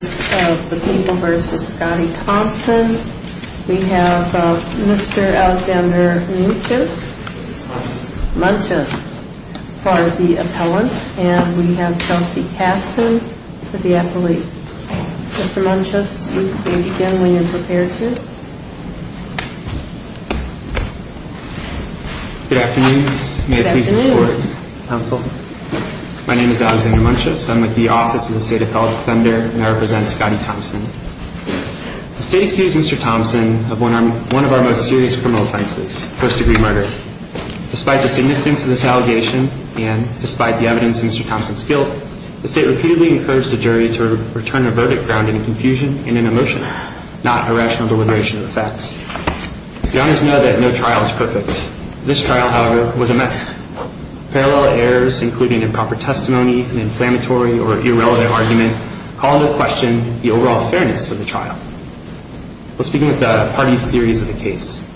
We have Alexander Munches for the appellant and Chelsea Caston for the athlete. Mr. Munches, you may begin when you're prepared to. Good afternoon. May it please the Court, Counsel. My name is Alexander Munches. I'm with the Office of the State Appellate Defender and I represent Scotty Thompson. The State accused Mr. Thompson of one of our most serious criminal offenses, first-degree murder. Despite the significance of this allegation and despite the evidence in Mr. Thompson's guilt, the State repeatedly encouraged the jury to return a verdict grounded in confusion and in emotion, not a rational deliberation of the facts. The honors know that no trial is perfect. This trial, however, was a mess. Parallel errors, including improper testimony, an inflammatory or irrelevant argument, call into question the overall fairness of the trial. Let's begin with the parties' theories of the case.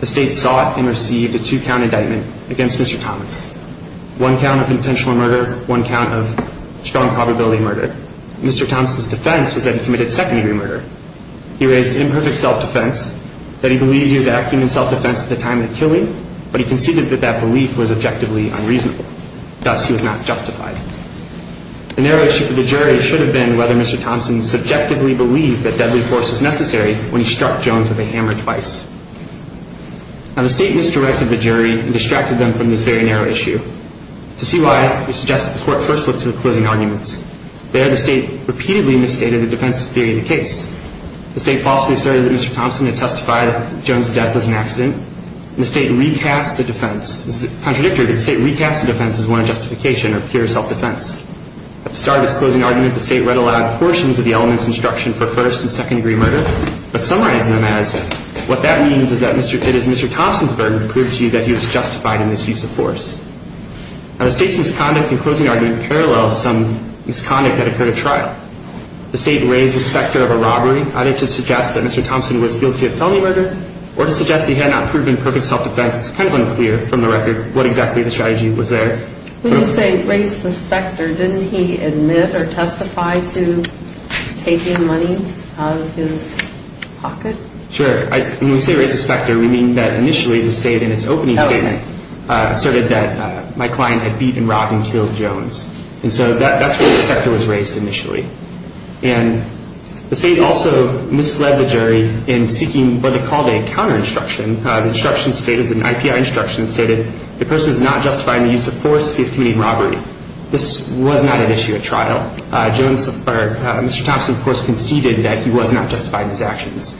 The State sought and received a two-count indictment against Mr. Thomas. One count of intentional murder, one count of strong probability murder. Mr. Thompson's defense was that he committed second-degree murder. He raised imperfect self-defense, that he believed he was acting in self-defense at the time of the killing, but he conceded that that belief was objectively unreasonable. Thus, he was not justified. The narrow issue for the jury should have been whether Mr. Thompson subjectively believed that deadly force was necessary when he struck Jones with a hammer twice. Now, the State misdirected the jury and distracted them from this very narrow issue. To see why, we suggest that the Court first look to the closing arguments. There, the State repeatedly misstated the defense's theory of the case. The State falsely asserted that Mr. Thompson had testified that Jones' death was an accident, and the State recast the defense. Contradictory, the State recast the defense as one of justification or pure self-defense. At the start of its closing argument, the State read aloud portions of the element's instruction for first- and second-degree murder, but summarized them as, what that means is that it is Mr. Thompson's burden to prove to you that he was justified in his use of force. Now, the State's misconduct in closing argument parallels some misconduct that occurred at trial. The State raised the specter of a robbery, either to suggest that Mr. Thompson was guilty of felony murder, or to suggest that he had not proven perfect self-defense. It's kind of unclear, from the record, what exactly the strategy was there. When you say raised the specter, didn't he admit or testify to taking money out of his pocket? Sure. When we say raised the specter, we mean that initially the State, in its opening statement, asserted that my client had beat and robbed and killed Jones. And so that's where the specter was raised initially. And the State also misled the jury in seeking what they called a counter-instruction. The instruction stated, an IPI instruction stated, the person is not justified in the use of force if he is committing robbery. This was not at issue at trial. Mr. Thompson, of course, conceded that he was not justified in his actions.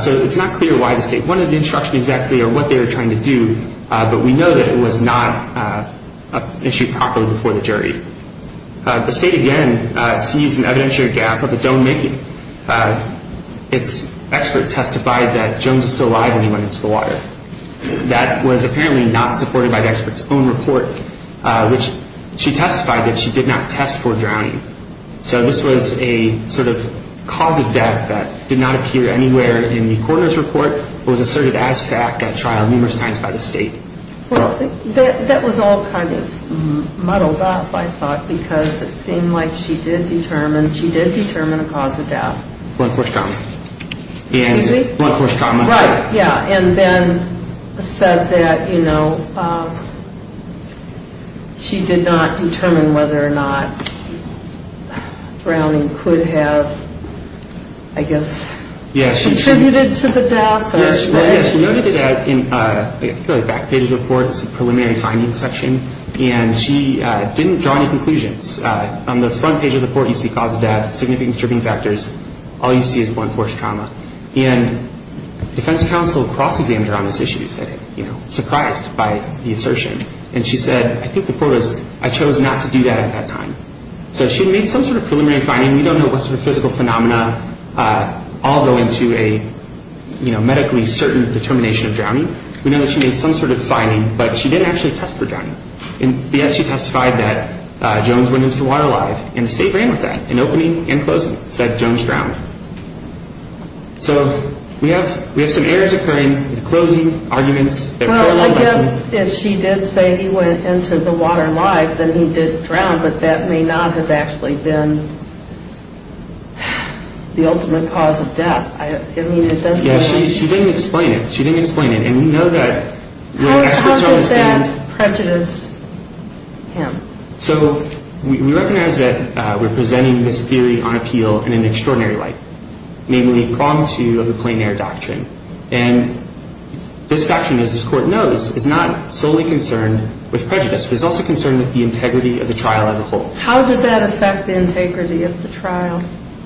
So it's not clear why the State wanted the instruction exactly or what they were trying to do, but we know that it was not issued properly before the jury. The State, again, sees an evidentiary gap of its own making. Its expert testified that Jones was still alive when he went into the water. That was apparently not supported by the expert's own report, which she testified that she did not test for drowning. So this was a sort of cause of death that did not appear anywhere in the coroner's report, but was asserted as fact at trial numerous times by the State. Well, that was all kind of muddled up, I thought, because it seemed like she did determine a cause of death. Blunt force trauma. Excuse me? Blunt force trauma. Right, yeah. And then said that, you know, she did not determine whether or not drowning could have, I guess, contributed to the death. Yes, she noted it in the back page of the report, the preliminary findings section, and she didn't draw any conclusions. On the front page of the report you see cause of death, significant contributing factors. All you see is blunt force trauma. And defense counsel cross-examined her on this issue, you know, surprised by the assertion. And she said, I think the court has chosen not to do that at that time. So she made some sort of preliminary finding. We don't know what sort of physical phenomena all go into a, you know, medically certain determination of drowning. We know that she made some sort of finding, but she didn't actually test for drowning. And, yes, she testified that Jones went into the water alive, and the State ran with that in opening and closing, said Jones drowned. So we have some errors occurring in closing, arguments. Well, I guess if she did say he went into the water alive, then he did drown, but that may not have actually been the ultimate cause of death. I mean, it doesn't make sense. Yes, she didn't explain it. She didn't explain it. And we know that the experts are on the stand. How did that prejudice him? So we recognize that we're presenting this theory on appeal in an extraordinary light, namely, prong two of the plein air doctrine. And this doctrine, as this court knows, is not solely concerned with prejudice, but is also concerned with the integrity of the trial as a whole. How did that affect the integrity of the trial?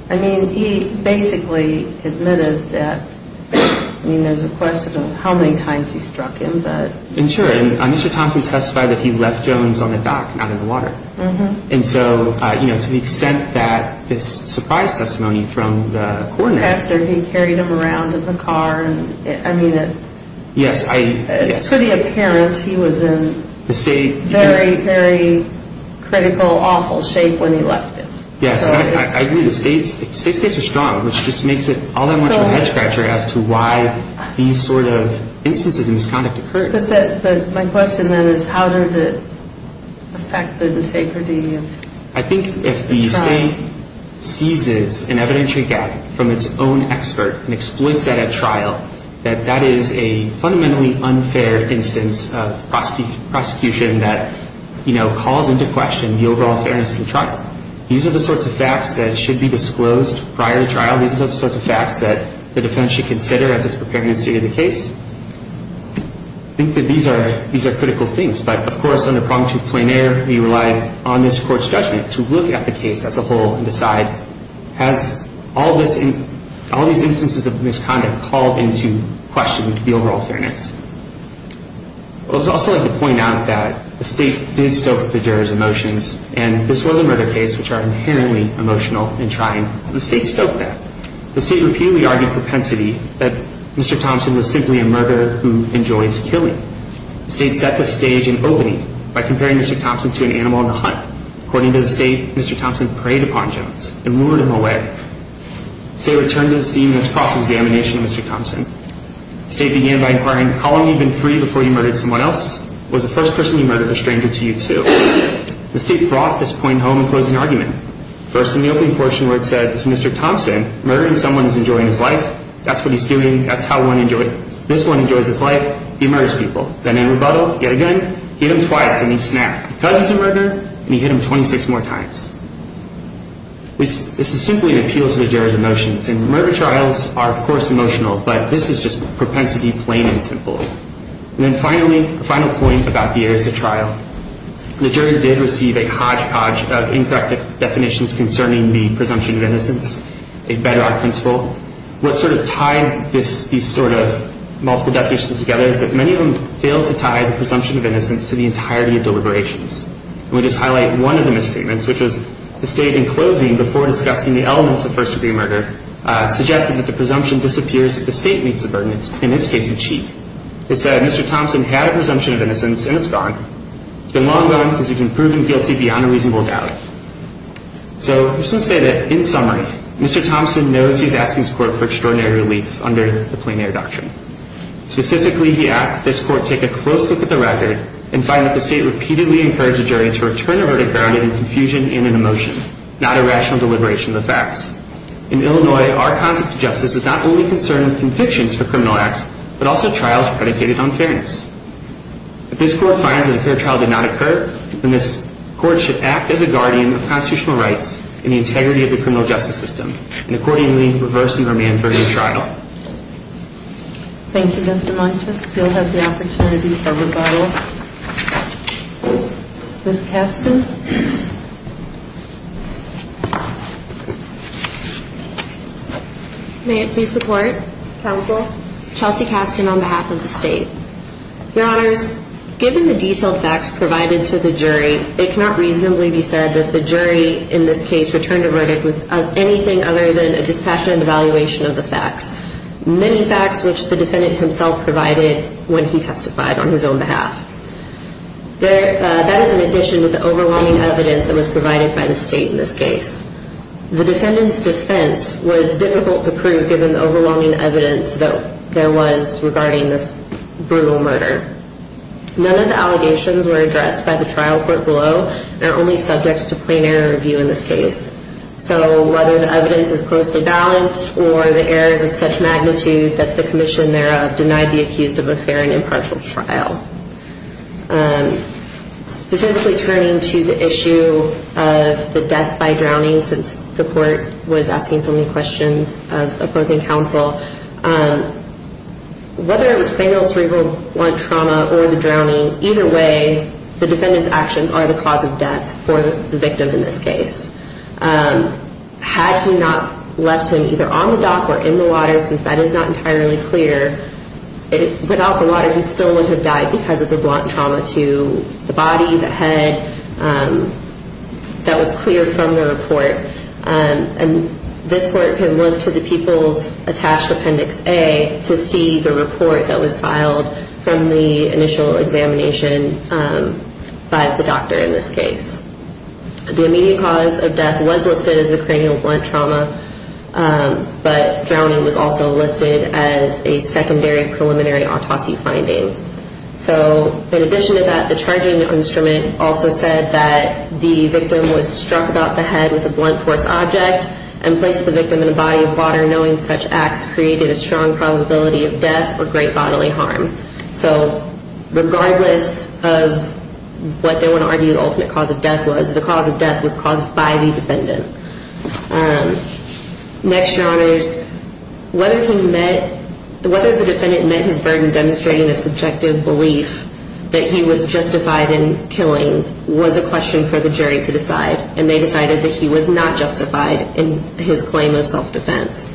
I mean, he basically admitted that, I mean, there's a question of how many times he struck him, but. And, sure, Mr. Thompson testified that he left Jones on the dock, not in the water. And so, you know, to the extent that this surprise testimony from the court. After he carried him around in the car. I mean, it's pretty apparent he was in. The state. Very, very critical, awful shape when he left it. Yes, I agree. The state's case was strong, which just makes it all that much of a head scratcher as to why these sort of instances of misconduct occurred. But my question, then, is how does it affect the integrity of the trial? I think if the state seizes an evidentiary gap from its own expert and exploits that at trial, that that is a fundamentally unfair instance of prosecution that, you know, calls into question the overall fairness of the trial. These are the sorts of facts that should be disclosed prior to trial. These are the sorts of facts that the defense should consider as it's preparing the state of the case. I think that these are critical things. But, of course, under Problem 2.0, we relied on this court's judgment to look at the case as a whole and decide, has all these instances of misconduct called into question the overall fairness? I would also like to point out that the state did stoke the jurors' emotions, and this was a murder case which are inherently emotional in trying, and the state stoked that. The state repeatedly argued propensity that Mr. Thompson was simply a murderer who enjoys killing. The state set the stage and opening by comparing Mr. Thompson to an animal on the hunt. According to the state, Mr. Thompson preyed upon Jones and lured him away. The state returned to the scene in its cross-examination of Mr. Thompson. The state began by inquiring, how long have you been free before you murdered someone else? Was the first person you murdered a stranger to you, too? The state brought this point home in closing argument. First, in the opening portion where it said, Mr. Thompson, murdering someone is enjoying his life. That's what he's doing. That's how one enjoys it. This one enjoys his life. He murders people. Then in rebuttal, yet again, he hit him twice and he snapped. Because he's a murderer, and he hit him 26 more times. This is simply an appeal to the jury's emotions. And murder trials are, of course, emotional, but this is just propensity plain and simple. And then finally, a final point about the years of trial. The jury did receive a hodgepodge of incorrect definitions concerning the presumption of innocence, a better art principle. What sort of tied these sort of multiple definitions together is that many of them failed to tie the presumption of innocence to the entirety of deliberations. And we just highlight one of the misstatements, which was the state, in closing, before discussing the elements of first-degree murder, suggested that the presumption disappears if the state meets the burden, in its case, in chief. It said, Mr. Thompson had a presumption of innocence, and it's gone. It's been long gone because you've been proven guilty beyond a reasonable doubt. So I just want to say that, in summary, Mr. Thompson knows he's asking his court for extraordinary relief under the Plain Air Doctrine. Specifically, he asks that this court take a close look at the record and find that the state repeatedly encouraged the jury to return a verdict grounded in confusion and in emotion, not a rational deliberation of the facts. In Illinois, our concept of justice is not only concerned with convictions for criminal acts, but also trials predicated on fairness. If this court finds that a fair trial did not occur, then this court should act as a guardian of constitutional rights and the integrity of the criminal justice system, and accordingly reverse the remand for a new trial. Thank you, Mr. Montes. We'll have the opportunity for rebuttal. Ms. Kasten. May it please the Court. Counsel. Chelsea Kasten on behalf of the state. Your Honors, given the detailed facts provided to the jury, it cannot reasonably be said that the jury in this case returned a verdict with anything other than a dispassionate evaluation of the facts, many facts which the defendant himself provided when he testified on his own behalf. That is in addition to the overwhelming evidence that was provided by the state in this case. The defendant's defense was difficult to prove given the overwhelming evidence that there was regarding this brutal murder. None of the allegations were addressed by the trial court below and are only subject to plain error review in this case. So whether the evidence is closely balanced or the errors of such magnitude that the commission thereof denied the accused of a fair and impartial trial. Specifically turning to the issue of the death by drowning since the court was asking so many questions of opposing counsel. Whether it was cranial, cerebral, or trauma or the drowning, either way, the defendant's actions are the cause of death for the victim in this case. Had he not left him either on the dock or in the water, since that is not entirely clear, without the water he still would have died because of the blunt trauma to the body that was clear from the report. This court can look to the People's Attached Appendix A to see the report that was filed from the initial examination by the doctor in this case. The immediate cause of death was listed as a cranial blunt trauma, but drowning was also listed as a secondary preliminary autopsy finding. So in addition to that, the charging instrument also said that the victim was struck about the head with a blunt force object and placed the victim in a body of water knowing such acts created a strong probability of death or great bodily harm. So regardless of what they want to argue the ultimate cause of death was, the cause of death was caused by the defendant. Next, Your Honors, whether the defendant met his burden demonstrating a subjective belief that he was justified in killing was a question for the jury to decide, and they decided that he was not justified in his claim of self-defense.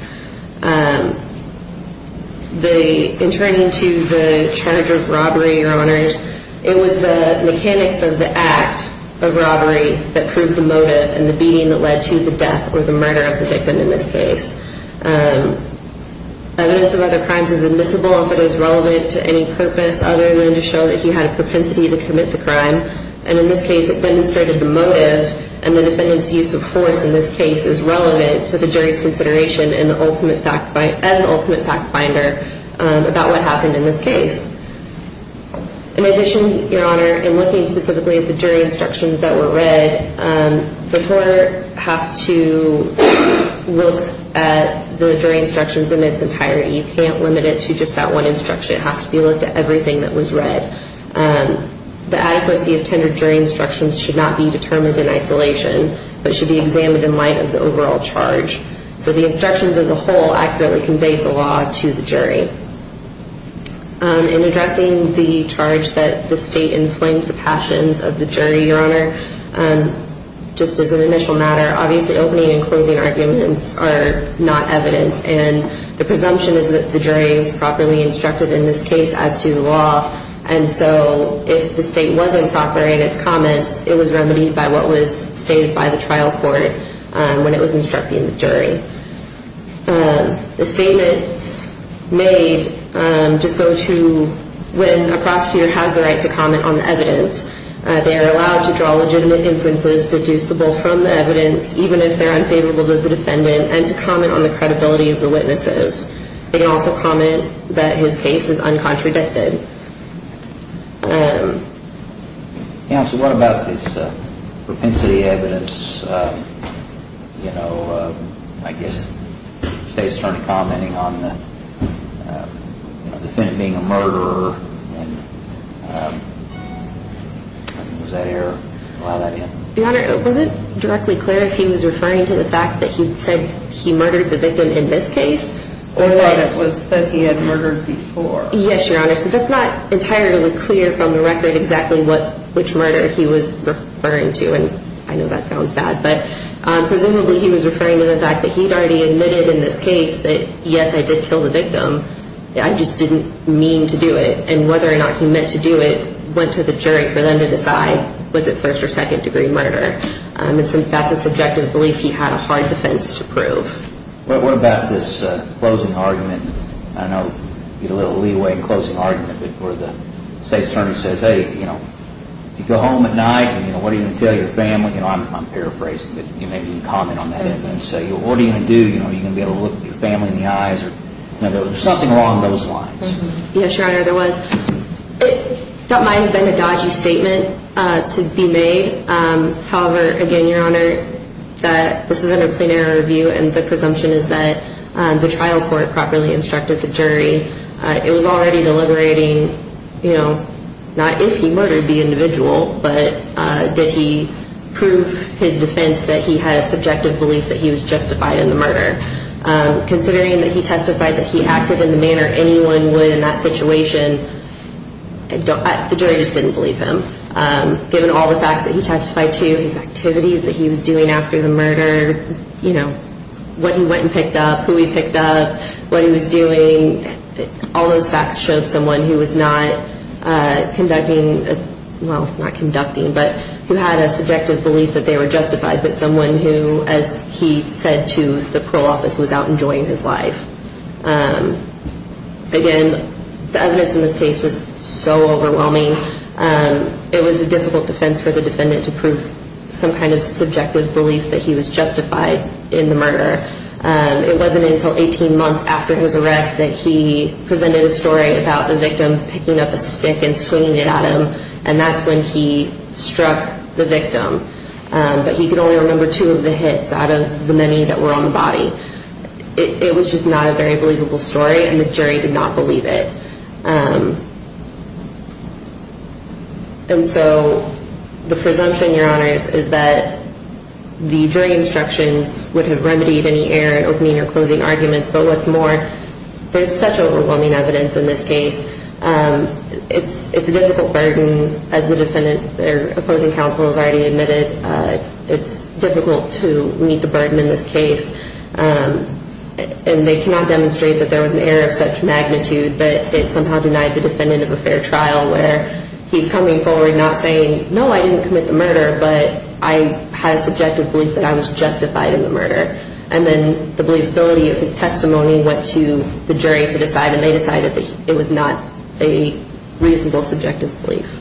In turning to the charge of robbery, Your Honors, it was the mechanics of the act of robbery that proved the motive and the beating that led to the death or the murder of the victim in this case. Evidence of other crimes is admissible if it is relevant to any purpose other than to show that he had a propensity to commit the crime, and in this case it demonstrated the motive, and the defendant's use of force in this case is relevant to the jury's consideration as an ultimate fact finder about what happened in this case. In addition, Your Honor, in looking specifically at the jury instructions that were read, the court has to look at the jury instructions in its entirety. You can't limit it to just that one instruction. It has to be looked at everything that was read. The adequacy of tendered jury instructions should not be determined in isolation, but should be examined in light of the overall charge. So the instructions as a whole accurately conveyed the law to the jury. In addressing the charge that the state inflamed the passions of the jury, Your Honor, just as an initial matter, obviously opening and closing arguments are not evidence, and the presumption is that the jury was properly instructed in this case as to the law, and so if the state wasn't proper in its comments, it was remedied by what was stated by the trial court when it was instructing the jury. The statements made just go to when a prosecutor has the right to comment on the evidence. They are allowed to draw legitimate inferences deducible from the evidence, even if they're unfavorable to the defendant, and to comment on the credibility of the witnesses. They can also comment that his case is uncontradicted. Counsel, what about this propensity evidence? You know, I guess the state's attorney commenting on the defendant being a murderer. Was that error? Allow that in? Your Honor, it wasn't directly clear if he was referring to the fact that he said he murdered the victim in this case. Or that it was that he had murdered before. Well, yes, Your Honor. So that's not entirely clear from the record exactly which murder he was referring to, and I know that sounds bad, but presumably he was referring to the fact that he'd already admitted in this case that, yes, I did kill the victim. I just didn't mean to do it. And whether or not he meant to do it went to the jury for them to decide. Was it first or second degree murder? What about this closing argument? I know you get a little leeway in closing argument, but where the state's attorney says, hey, you know, if you go home at night, what are you going to tell your family? You know, I'm paraphrasing, but maybe you can comment on that evidence. Say, what are you going to do? Are you going to be able to look your family in the eyes? You know, there was something along those lines. Yes, Your Honor, there was. That might have been a dodgy statement to be made. However, again, Your Honor, this is under plain error review, and the presumption is that the trial court properly instructed the jury. It was already deliberating, you know, not if he murdered the individual, but did he prove his defense that he had a subjective belief that he was justified in the murder. Considering that he testified that he acted in the manner anyone would in that situation, the jury just didn't believe him. Given all the facts that he testified to, his activities that he was doing after the murder, you know, what he went and picked up, who he picked up, what he was doing, all those facts showed someone who was not conducting, well, not conducting, but who had a subjective belief that they were justified, but someone who, as he said to the parole office, was out enjoying his life. Again, the evidence in this case was so overwhelming. It was a difficult defense for the defendant to prove some kind of subjective belief that he was justified in the murder. It wasn't until 18 months after his arrest that he presented a story about the victim picking up a stick and swinging it at him, and that's when he struck the victim. But he could only remember two of the hits out of the many that were on the body. It was just not a very believable story, and the jury did not believe it. And so the presumption, Your Honors, is that the jury instructions would have remedied any error in opening or closing arguments, but what's more, there's such overwhelming evidence in this case. It's a difficult burden, as the defendant, their opposing counsel has already admitted. It's difficult to meet the burden in this case, and they cannot demonstrate that there was an error of such magnitude that it somehow denied the defendant of a fair trial where he's coming forward not saying, no, I didn't commit the murder, but I had a subjective belief that I was justified in the murder. And then the believability of his testimony went to the jury to decide, and they decided that it was not a reasonable subjective belief.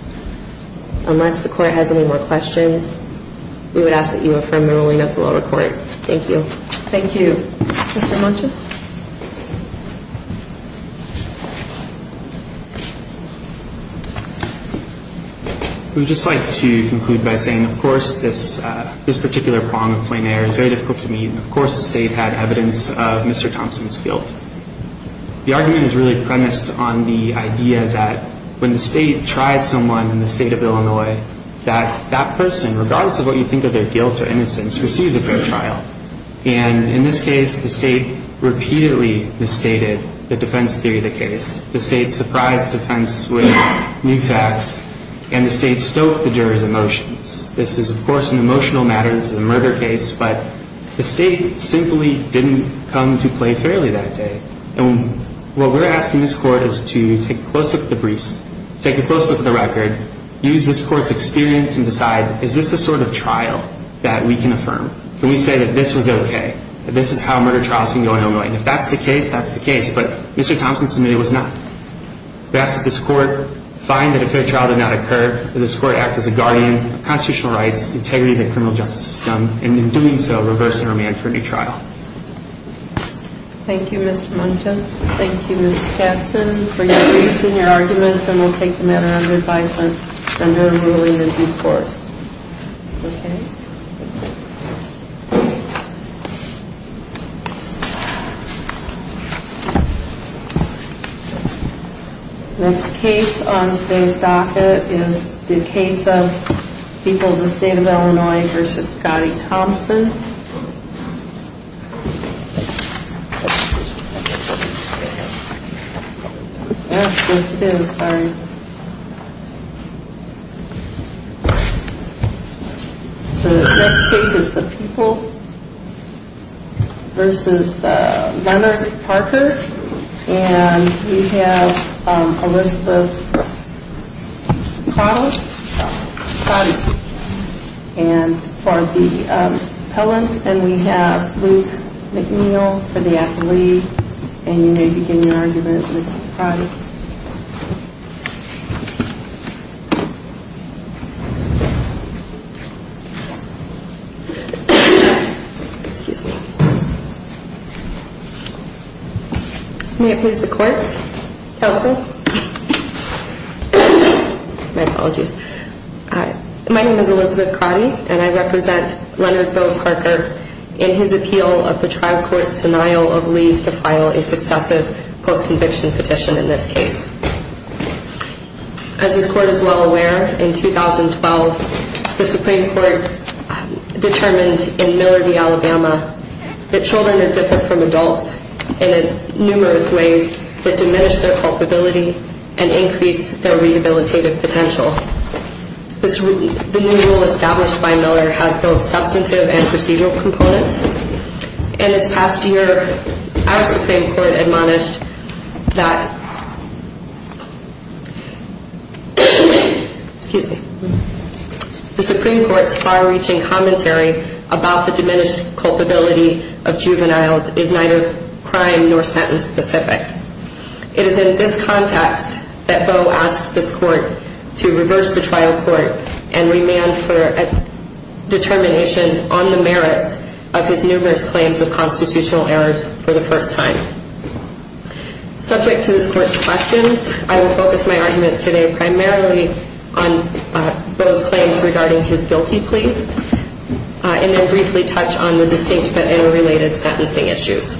Unless the Court has any more questions, we would ask that you affirm the ruling of the lower court. Thank you. Thank you. Mr. Munchen? We would just like to conclude by saying, of course, this particular poem of Plain Air is very difficult to meet, and of course the State had evidence of Mr. Thompson's guilt. The argument is really premised on the idea that when the State tries someone in the State of Illinois, that that person, regardless of what you think of their guilt or innocence, receives a fair trial. And in this case, the State repeatedly misstated the defense theory of the case. The State surprised the defense with new facts, and the State stoked the jurors' emotions. This is, of course, an emotional matter. This is a murder case. But the State simply didn't come to play fairly that day. And what we're asking this Court is to take a close look at the briefs, take a close look at the record, use this Court's experience and decide, is this a sort of trial that we can affirm? Can we say that this was okay, that this is how murder trials can go in Illinois? And if that's the case, that's the case. But Mr. Thompson's committee was not. We ask that this Court find that a fair trial did not occur, that this Court act as a guardian of constitutional rights, integrity of the criminal justice system, and in doing so, reverse the remand for a new trial. Thank you, Mr. Munchen. Thank you, Mr. Thompson. We'll take the matter under advisement under the ruling of due course. Okay? Next case on today's docket is the case of People of the State of Illinois v. Scotty Thompson. Next case is the People v. Leonard Parker. And we have Elizabeth Prottick for the appellant. And we have Luke McNeil for the athlete. And you may begin your argument, Mrs. Prottick. Excuse me. May it please the Court? Counsel? My apologies. My name is Elizabeth Prottick, and I represent Leonard Bill Parker in his appeal of the trial court's denial of leave to file a successive post-conviction petition in this case. As this Court is well aware, in 2012, the Supreme Court determined in Miller v. Alabama that children are different from adults in numerous ways that diminish their culpability and increase their rehabilitative potential. The new rule established by Miller has both substantive and procedural components, and this past year our Supreme Court admonished that the Supreme Court's far-reaching commentary about the diminished culpability of juveniles is neither crime nor sentence-specific. It is in this context that Boe asks this Court to reverse the trial court and remand for a determination on the merits of his numerous claims of constitutional errors for the first time. Subject to this Court's questions, I will focus my arguments today primarily on Boe's claims regarding his guilty plea and then briefly touch on the distinct but interrelated sentencing issues.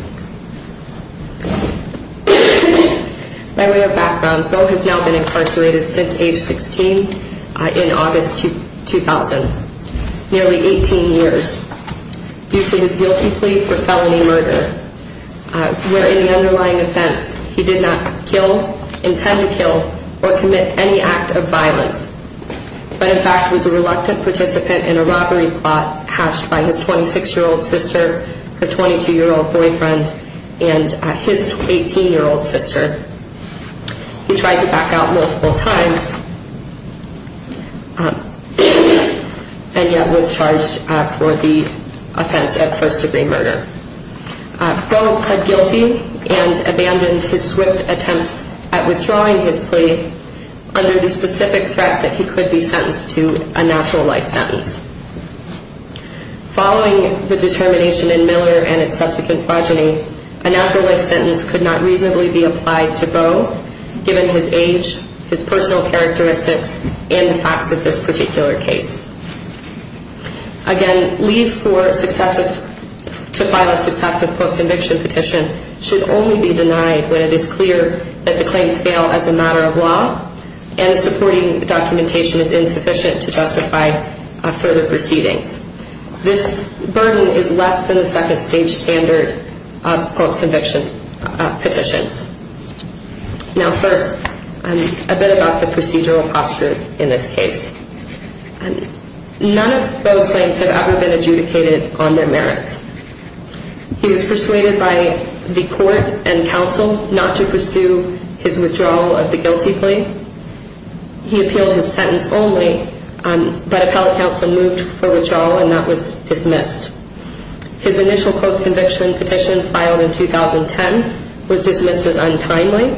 By way of background, Boe has now been incarcerated since age 16 in August 2000, nearly 18 years, due to his guilty plea for felony murder, where in the underlying offense he did not kill, intend to kill, or commit any act of violence, but in fact was a reluctant participant in a robbery plot hatched by his 26-year-old sister, her 22-year-old boyfriend, and his 18-year-old sister. He tried to back out multiple times and yet was charged for the offense of first-degree murder. Boe pled guilty and abandoned his swift attempts at withdrawing his plea under the specific threat that he could be sentenced to a natural life sentence. Following the determination in Miller and its subsequent progeny, a natural life sentence could not reasonably be applied to Boe, given his age, his personal characteristics, and the facts of this particular case. Again, leave to file a successive post-conviction petition should only be denied when it is clear that the claims fail as a matter of law and the supporting documentation is insufficient to justify further proceedings. This burden is less than the second-stage standard of post-conviction petitions. Now first, a bit about the procedural posture in this case. None of Boe's claims have ever been adjudicated on their merits. He was persuaded by the court and counsel not to pursue his withdrawal of the guilty plea. He appealed his sentence only, but appellate counsel moved for withdrawal and that was dismissed. His initial post-conviction petition, filed in 2010, was dismissed as untimely.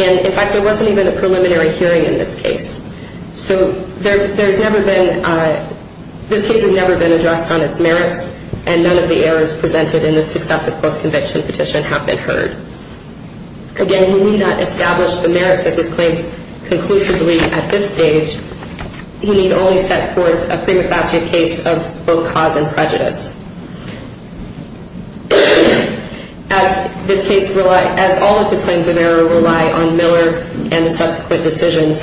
And, in fact, there wasn't even a preliminary hearing in this case. So there's never been, this case has never been addressed on its merits and none of the errors presented in the successive post-conviction petition have been heard. Again, he need not establish the merits of his claims conclusively at this stage. He need only set forth a prima facie case of both cause and prejudice. As this case, as all of his claims of error rely on Miller and the subsequent decisions,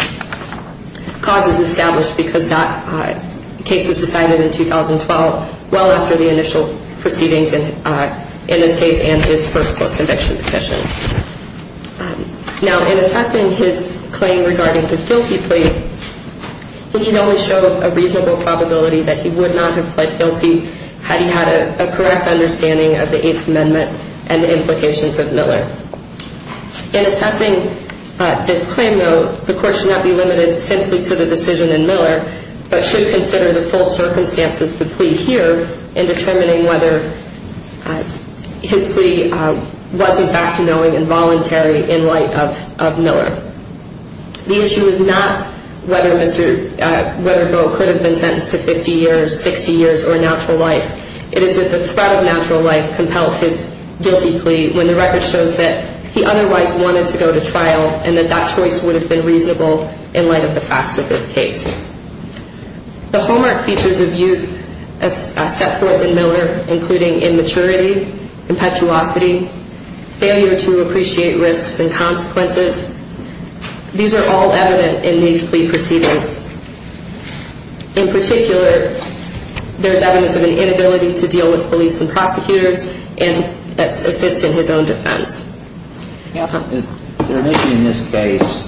cause is established because that case was decided in 2012, well after the initial proceedings in this case and his first post-conviction petition. Now in assessing his claim regarding his guilty plea, he need only show a reasonable probability that he would not have pled guilty had he had a correct understanding of the Eighth Amendment and the implications of Miller. In assessing this claim, though, the court should not be limited simply to the decision in Miller, but should consider the full circumstances of the plea here in determining whether his plea was, in fact, knowing and voluntary in light of Miller. The issue is not whether Bo could have been sentenced to 50 years, 60 years, or natural life. It is that the threat of natural life compelled his guilty plea when the record shows that he otherwise wanted to go to trial and that that choice would have been reasonable in light of the facts of this case. The hallmark features of youth set forth in Miller, including immaturity, impetuosity, failure to appreciate risks and consequences, these are all evident in these plea proceedings. In particular, there is evidence of an inability to deal with police and prosecutors and assist in his own defense. Counsel, is there an issue in this case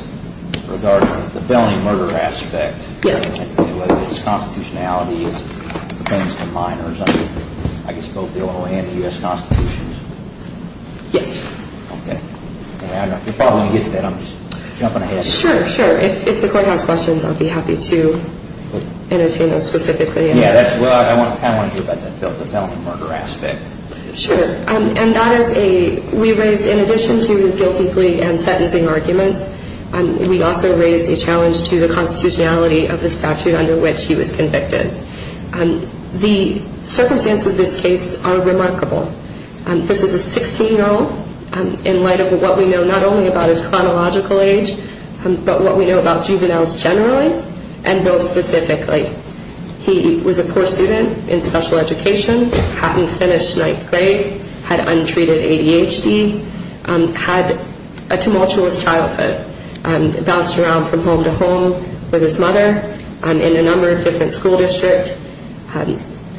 regarding the felony murder aspect? Yes. Is there an issue with his constitutionality as it pertains to minors under, I guess, both the Ohio and the U.S. constitutions? Yes. Okay. You're probably going to get to that. I'm just jumping ahead here. Sure, sure. If the court has questions, I'll be happy to entertain those specifically. Yeah, that's what I kind of want to hear about, the felony murder aspect. Sure. And that is a, we raised, in addition to his guilty plea and sentencing arguments, we also raised a challenge to the constitutionality of the statute under which he was convicted. The circumstances of this case are remarkable. This is a 16-year-old in light of what we know not only about his chronological age, but what we know about juveniles generally and those specifically. He was a poor student in special education, hadn't finished ninth grade, had untreated ADHD, had a tumultuous childhood, bounced around from home to home with his mother in a number of different school districts,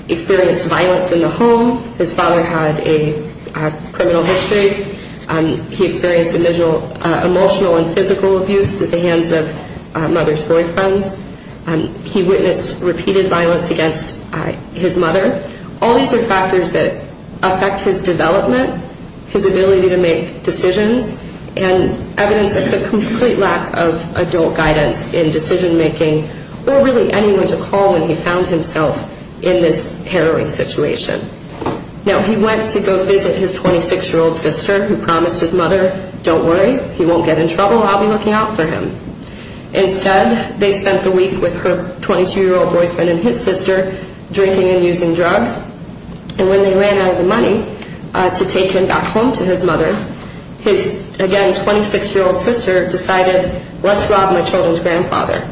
experienced violence in the home. His father had a criminal history. He experienced emotional and physical abuse at the hands of mother's boyfriends. He witnessed repeated violence against his mother. All these are factors that affect his development, his ability to make decisions, and evidence of a complete lack of adult guidance in decision-making or really anyone to call when he found himself in this harrowing situation. Now, he went to go visit his 26-year-old sister who promised his mother, don't worry, he won't get in trouble, I'll be looking out for him. Instead, they spent the week with her 22-year-old boyfriend and his sister, drinking and using drugs. And when they ran out of the money to take him back home to his mother, his, again, 26-year-old sister decided, let's rob my children's grandfather.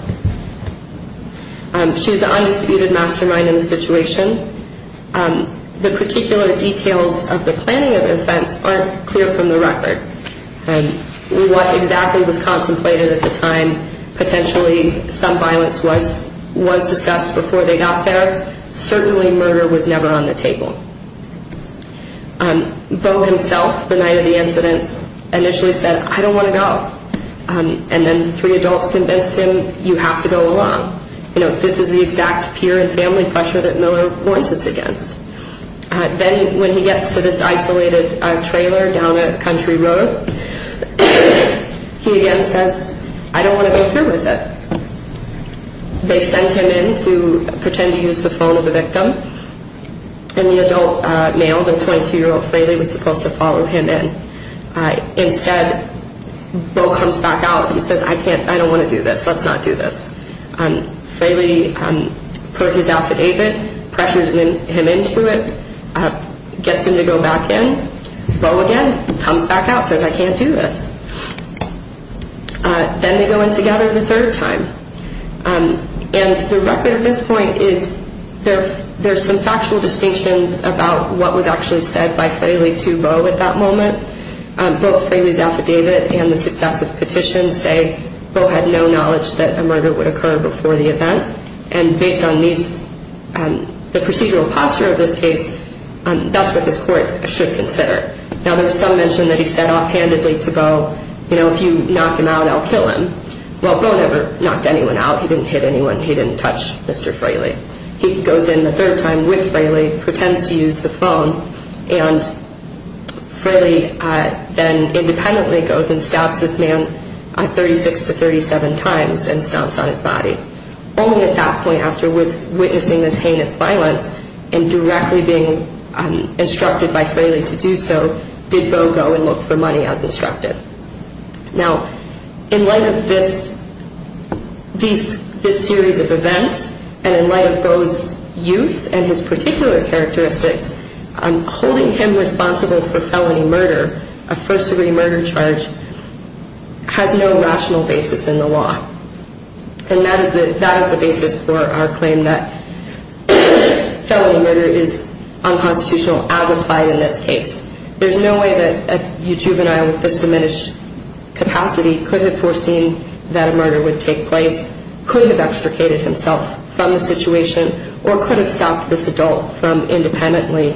She was the undisputed mastermind in the situation. The particular details of the planning of the offense aren't clear from the record. What exactly was contemplated at the time, and potentially some violence was discussed before they got there, certainly murder was never on the table. Beau himself, the night of the incidents, initially said, I don't want to go. And then three adults convinced him, you have to go along. This is the exact peer and family pressure that Miller warns us against. Then when he gets to this isolated trailer down a country road, he again says, I don't want to go through with it. They sent him in to pretend to use the phone of the victim. And the adult male, the 22-year-old Fraley, was supposed to follow him in. Instead, Beau comes back out. He says, I can't, I don't want to do this, let's not do this. Fraley put his affidavit, pressured him into it, gets him to go back in. Beau again comes back out, says, I can't do this. Then they go in together the third time. And the record at this point is there's some factual distinctions about what was actually said by Fraley to Beau at that moment. Both Fraley's affidavit and the successive petitions say Beau had no knowledge that a murder would occur before the event. And based on the procedural posture of this case, that's what this court should consider. Now, there was some mention that he said offhandedly to Beau, you know, if you knock him out, I'll kill him. Well, Beau never knocked anyone out. He didn't hit anyone. He didn't touch Mr. Fraley. He goes in the third time with Fraley, pretends to use the phone, and Fraley then independently goes and stabs this man 36 to 37 times and stomps on his body. Only at that point, after witnessing this heinous violence and directly being instructed by Fraley to do so, did Beau go and look for money as instructed. Now, in light of this series of events and in light of Beau's youth and his particular characteristics, holding him responsible for felony murder, a first-degree murder charge, has no rational basis in the law. And that is the basis for our claim that felony murder is unconstitutional as applied in this case. There's no way that a juvenile with this diminished capacity could have foreseen that a murder would take place, could have extricated himself from the situation, or could have stopped this adult from independently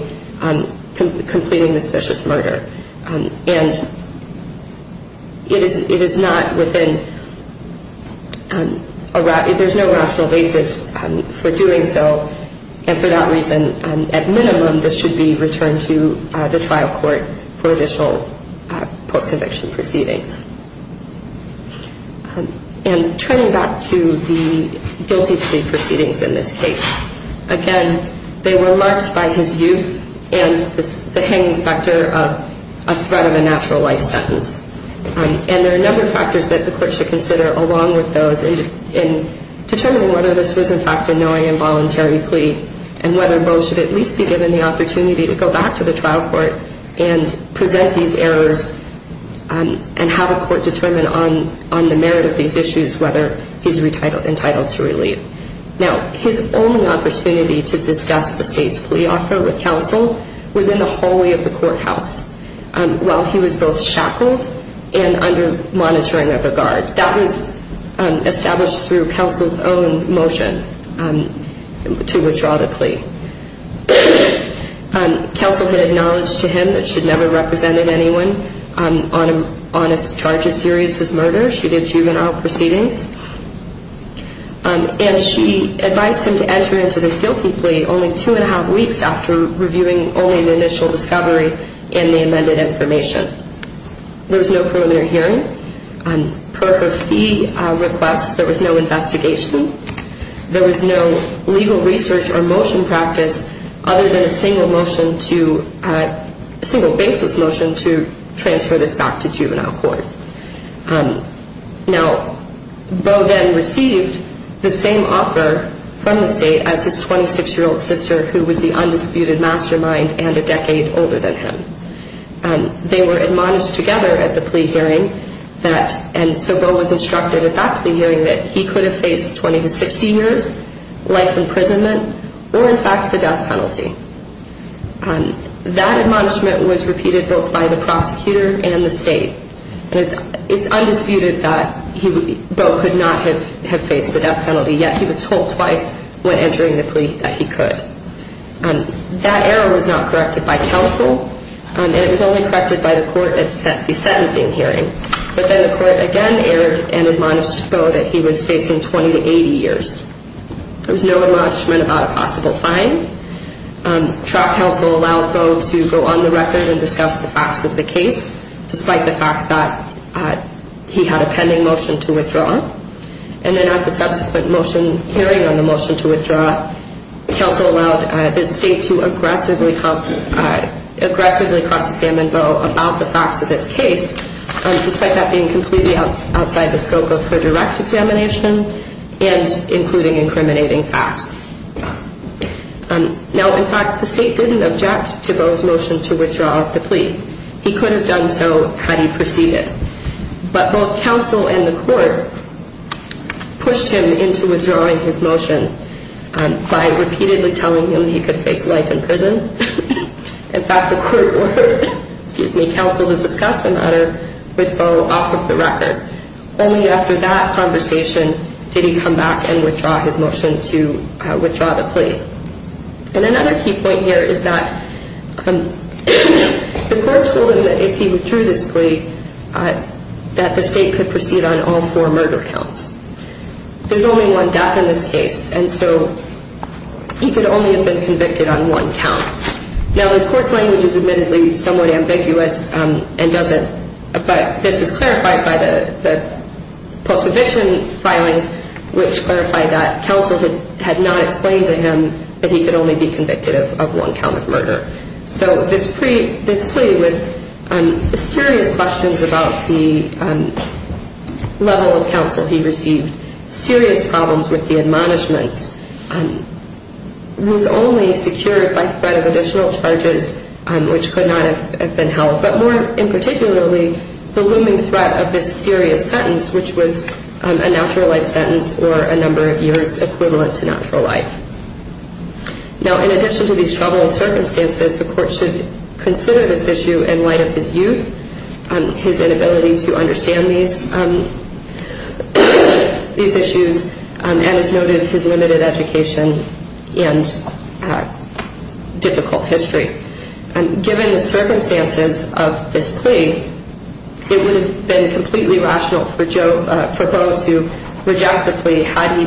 completing this vicious murder. And it is not within a rational – there's no rational basis for doing so. And for that reason, at minimum, this should be returned to the trial court for additional post-conviction proceedings. And turning back to the guilty plea proceedings in this case, again, they were marked by his youth and the hanging specter of a threat of a natural life sentence. And there are a number of factors that the court should consider along with those in determining whether this was, in fact, a knowing and voluntary plea, and whether Beau should at least be given the opportunity to go back to the trial court and present these errors and have a court determine on the merit of these issues whether he's entitled to relief. Now, his only opportunity to discuss the state's plea offer with counsel was in the hallway of the courthouse while he was both shackled and under monitoring of a guard. That was established through counsel's own motion to withdraw the plea. Counsel had acknowledged to him that she'd never represented anyone on a charge as serious as murder. She did juvenile proceedings. And she advised him to enter into this guilty plea only two and a half weeks after reviewing only an initial discovery and the amended information. There was no preliminary hearing. Per her fee request, there was no investigation. There was no legal research or motion practice other than a single motion to, a single basis motion to transfer this back to juvenile court. Now, Beau then received the same offer from the state as his 26-year-old sister, who was the undisputed mastermind and a decade older than him. They were admonished together at the plea hearing, and so Beau was instructed at that plea hearing that he could have faced 20 to 60 years life imprisonment or, in fact, the death penalty. That admonishment was repeated both by the prosecutor and the state. And it's undisputed that Beau could not have faced the death penalty, yet he was told twice when entering the plea that he could. That error was not corrected by counsel, and it was only corrected by the court at the sentencing hearing. But then the court again erred and admonished Beau that he was facing 20 to 80 years. There was no admonishment about a possible fine. Trial counsel allowed Beau to go on the record and discuss the facts of the case, despite the fact that he had a pending motion to withdraw. And then at the subsequent hearing on the motion to withdraw, counsel allowed the state to aggressively cross-examine Beau about the facts of this case, despite that being completely outside the scope of her direct examination and including incriminating facts. Now, in fact, the state didn't object to Beau's motion to withdraw the plea. He could have done so had he proceeded. But both counsel and the court pushed him into withdrawing his motion by repeatedly telling him he could face life in prison. In fact, the court ordered counsel to discuss the matter with Beau off of the record. Only after that conversation did he come back and withdraw his motion to withdraw the plea. And another key point here is that the court told him that if he withdrew this plea, that the state could proceed on all four murder counts. There's only one death in this case, and so he could only have been convicted on one count. Now, the court's language is admittedly somewhat ambiguous and doesn't, but this is clarified by the post-conviction filings, which clarify that counsel had not explained to him that he could only be convicted of one count of murder. So this plea, with serious questions about the level of counsel he received, serious problems with the admonishments, was only secured by threat of additional charges, which could not have been held, but more in particularly the looming threat of this serious sentence, which was a natural life sentence or a number of years equivalent to natural life. Now, in addition to these troubled circumstances, the court should consider this issue in light of his youth, his inability to understand these issues, and as noted, his limited education and difficult history. Given the circumstances of this plea, it would have been completely rational for Beau to reject the plea had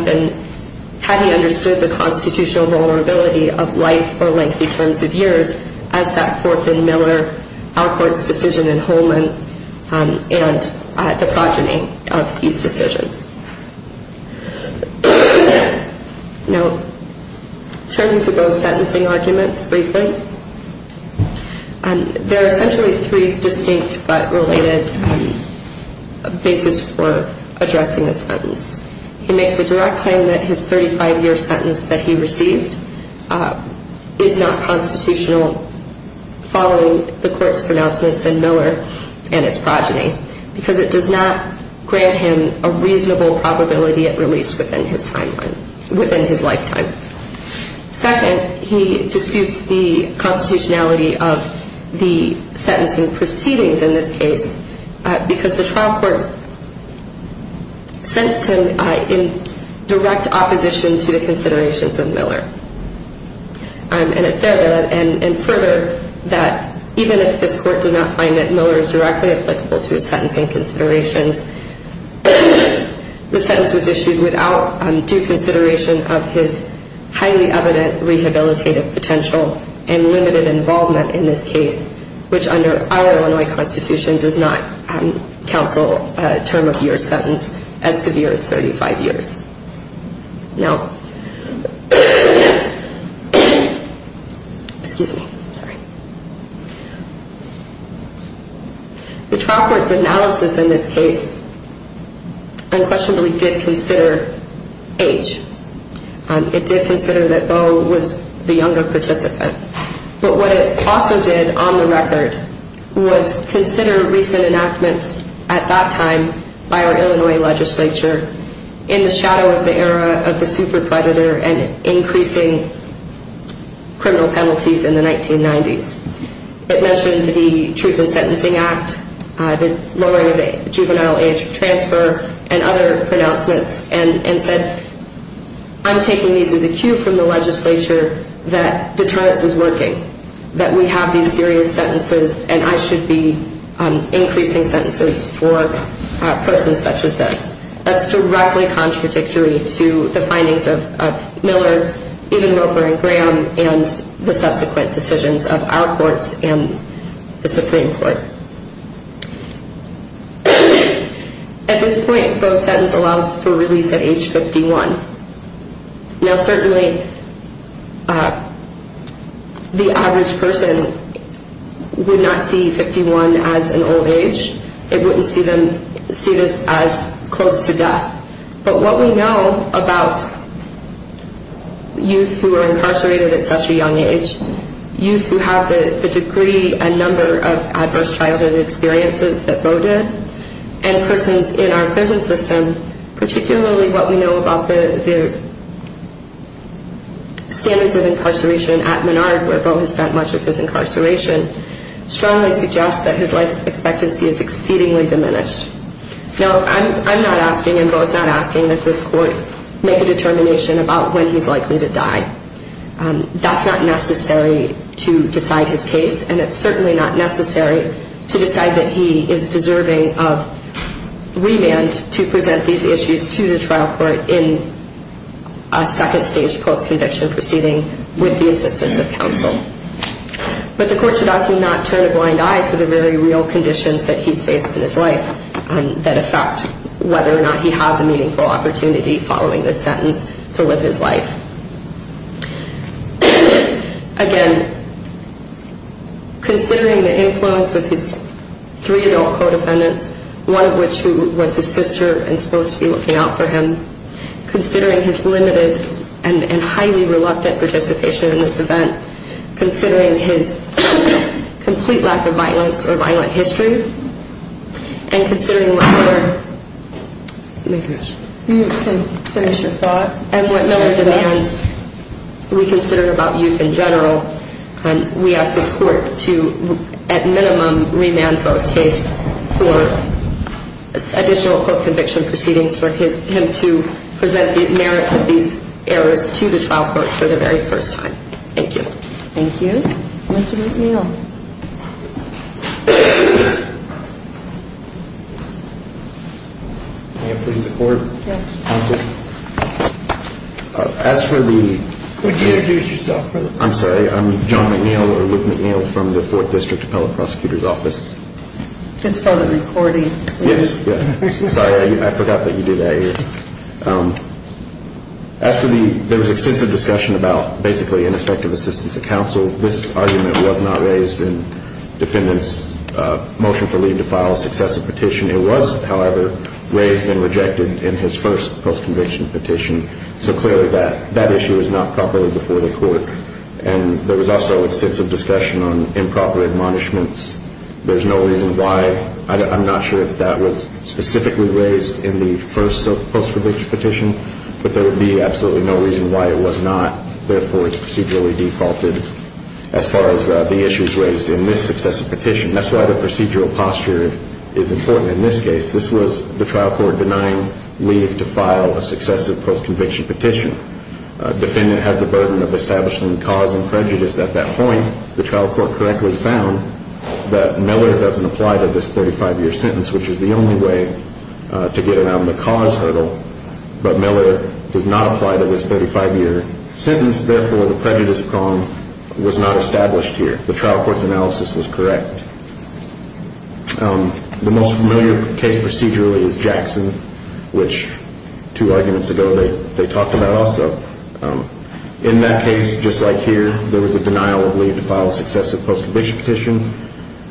he understood the constitutional vulnerability of life or lengthy terms of years as set forth in Miller, Alcort's decision in Holman, and the progeny of these decisions. Now, turning to Beau's sentencing arguments briefly, there are essentially three distinct but related bases for addressing this sentence. He makes a direct claim that his 35-year sentence that he received is not constitutional following the court's pronouncements in Miller and its progeny, because it does not grant him a reasonable probability at release within his lifetime. Second, he disputes the constitutionality of the sentencing proceedings in this case, because the trial court sentenced him in direct opposition to the considerations of Miller. And further, that even if this court does not find that Miller is directly applicable to his sentencing considerations, the sentence was issued without due consideration of his highly evident rehabilitative potential and limited involvement in this case, which under our Illinois constitution does not counsel a term of year sentence as severe as 35 years. Now, excuse me, sorry. The trial court's analysis in this case unquestionably did consider age. It did consider that Beau was the younger participant. But what it also did on the record was consider recent enactments at that time by our Illinois legislature in the shadow of the era of the super predator and increasing criminal penalties in the 1990s. It mentioned the Truth in Sentencing Act, the lowering of the juvenile age transfer and other pronouncements and said, I'm taking these as a cue from the legislature that deterrence is working, that we have these serious sentences and I should be increasing sentences for persons such as this. That's directly contradictory to the findings of Miller, even Roper and Graham, and the subsequent decisions of our courts and the Supreme Court. At this point, Beau's sentence allows for release at age 51. Now, certainly the average person would not see 51 as an old age. They wouldn't see this as close to death. But what we know about youth who are incarcerated at such a young age, youth who have the degree and number of adverse childhood experiences that Beau did, and persons in our prison system, particularly what we know about the standards of incarceration at Menard, where Beau has spent much of his incarceration, strongly suggests that his life expectancy is exceedingly diminished. Now, I'm not asking and Beau is not asking that this court make a determination about when he's likely to die. That's not necessary to decide his case, and it's certainly not necessary to decide that he is deserving of remand to present these issues to the trial court in a second-stage post-conviction proceeding with the assistance of counsel. But the court should also not turn a blind eye to the very real conditions that he's faced in his life that affect whether or not he has a meaningful opportunity following this sentence to live his life. Again, considering the influence of his three-year-old co-dependents, one of which was his sister and supposed to be looking out for him, considering his limited and highly reluctant participation in this event, considering his complete lack of violence or violent history, and considering what Miller demands we consider about youth in general, we ask this court to at minimum remand Beau's case for additional post-conviction proceedings for him to present the merits of these errors to the trial court for the very first time. Thank you. Thank you. Mr. McNeil. May it please the court? Yes. As for the... Would you introduce yourself? I'm sorry. I'm John McNeil, or Luke McNeil, from the Fourth District Appellate Prosecutor's Office. It's for the recording. Yes. Sorry, I forgot that you do that here. As for the... There was extensive discussion about basically ineffective assistance of counsel. This argument was not raised in defendant's motion for leave to file a successive petition. It was, however, raised and rejected in his first post-conviction petition, so clearly that issue is not properly before the court. And there was also extensive discussion on improper admonishments. There's no reason why. I'm not sure if that was specifically raised in the first post-conviction petition, but there would be absolutely no reason why it was not. Therefore, it's procedurally defaulted as far as the issues raised in this successive petition. That's why the procedural posture is important in this case. This was the trial court denying leave to file a successive post-conviction petition. Defendant has the burden of establishing cause and prejudice at that point. The trial court correctly found that Miller doesn't apply to this 35-year sentence, which is the only way to get around the cause hurdle, but Miller does not apply to this 35-year sentence. Therefore, the prejudice prong was not established here. The trial court's analysis was correct. The most familiar case procedurally is Jackson, which two arguments ago they talked about also. In that case, just like here, there was a denial of leave to file a successive post-conviction petition.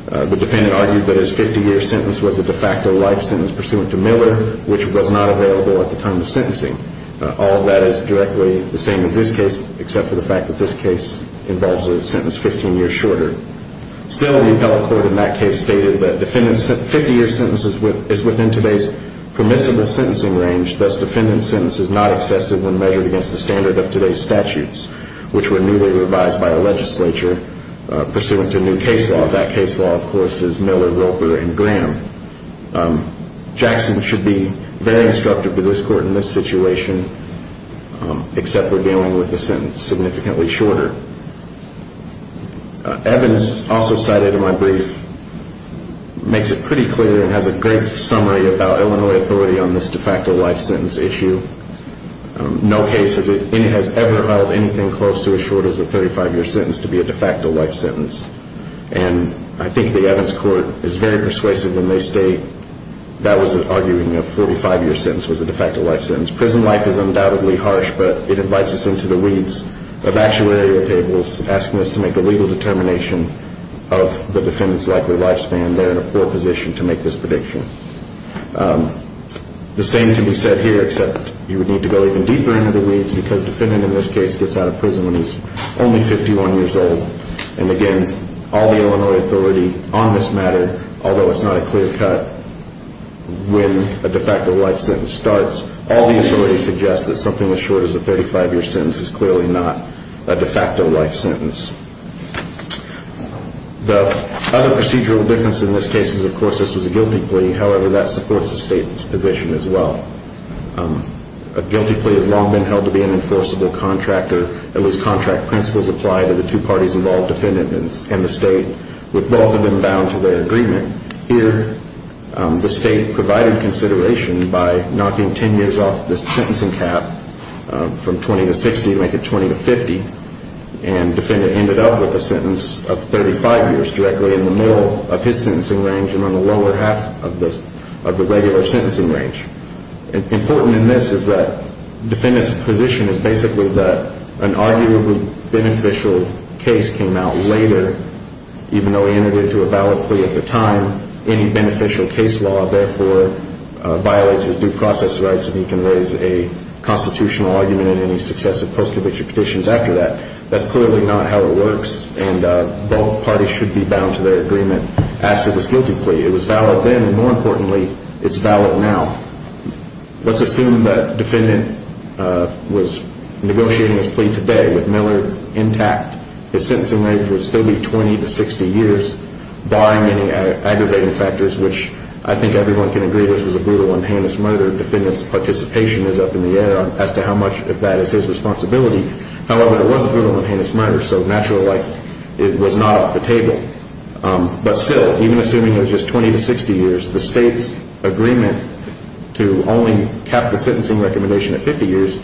The defendant argued that his 50-year sentence was a de facto life sentence pursuant to Miller, which was not available at the time of sentencing. All of that is directly the same as this case, except for the fact that this case involves a sentence 15 years shorter. Still, the appellate court in that case stated that defendant's 50-year sentence is within today's permissible sentencing range, thus defendant's sentence is not excessive when measured against the standard of today's statutes, which were newly revised by the legislature pursuant to new case law. That case law, of course, is Miller, Roper, and Graham. Jackson should be very instructive to this court in this situation, except for dealing with the sentence significantly shorter. Evans, also cited in my brief, makes it pretty clear and has a great summary about Illinois authority on this de facto life sentence issue. No case has ever held anything close to as short as a 35-year sentence to be a de facto life sentence. I think the Evans court is very persuasive when they state that was an arguing of 45-year sentence was a de facto life sentence. Prison life is undoubtedly harsh, but it invites us into the weeds of actuarial tables, asking us to make a legal determination of the defendant's likely lifespan. The same can be said here, except you would need to go even deeper into the weeds, because defendant in this case gets out of prison when he's only 51 years old. And again, all the Illinois authority on this matter, although it's not a clear cut, when a de facto life sentence starts, all the authority suggests that something as short as a 35-year sentence is clearly not a de facto life sentence. The other procedural difference in this case is, of course, this was a guilty plea. However, that supports the state's position as well. A guilty plea has long been held to be an enforceable contract, or at least contract principles apply to the two parties involved, defendant and the state, with both of them bound to their agreement. Here, the state provided consideration by knocking 10 years off the sentencing cap from 20 to 60 to make it 20 to 50, and defendant ended up with a sentence of 35 years directly in the middle of his sentencing range and on the lower half of the regular sentencing range. Important in this is that defendant's position is basically that an arguably beneficial case came out later, even though he entered into a valid plea at the time. Any beneficial case law, therefore, violates his due process rights, and he can raise a constitutional argument in any successive post-conviction petitions after that. That's clearly not how it works, and both parties should be bound to their agreement as to this guilty plea. It was valid then, and more importantly, it's valid now. Let's assume that defendant was negotiating his plea today with Miller intact. His sentencing range would still be 20 to 60 years, barring any aggravating factors, which I think everyone can agree this was a brutal and heinous murder. Defendant's participation is up in the air as to how much of that is his responsibility. However, it was a brutal and heinous murder, so natural life was not off the table. But still, even assuming it was just 20 to 60 years, the state's agreement to only cap the sentencing recommendation at 50 years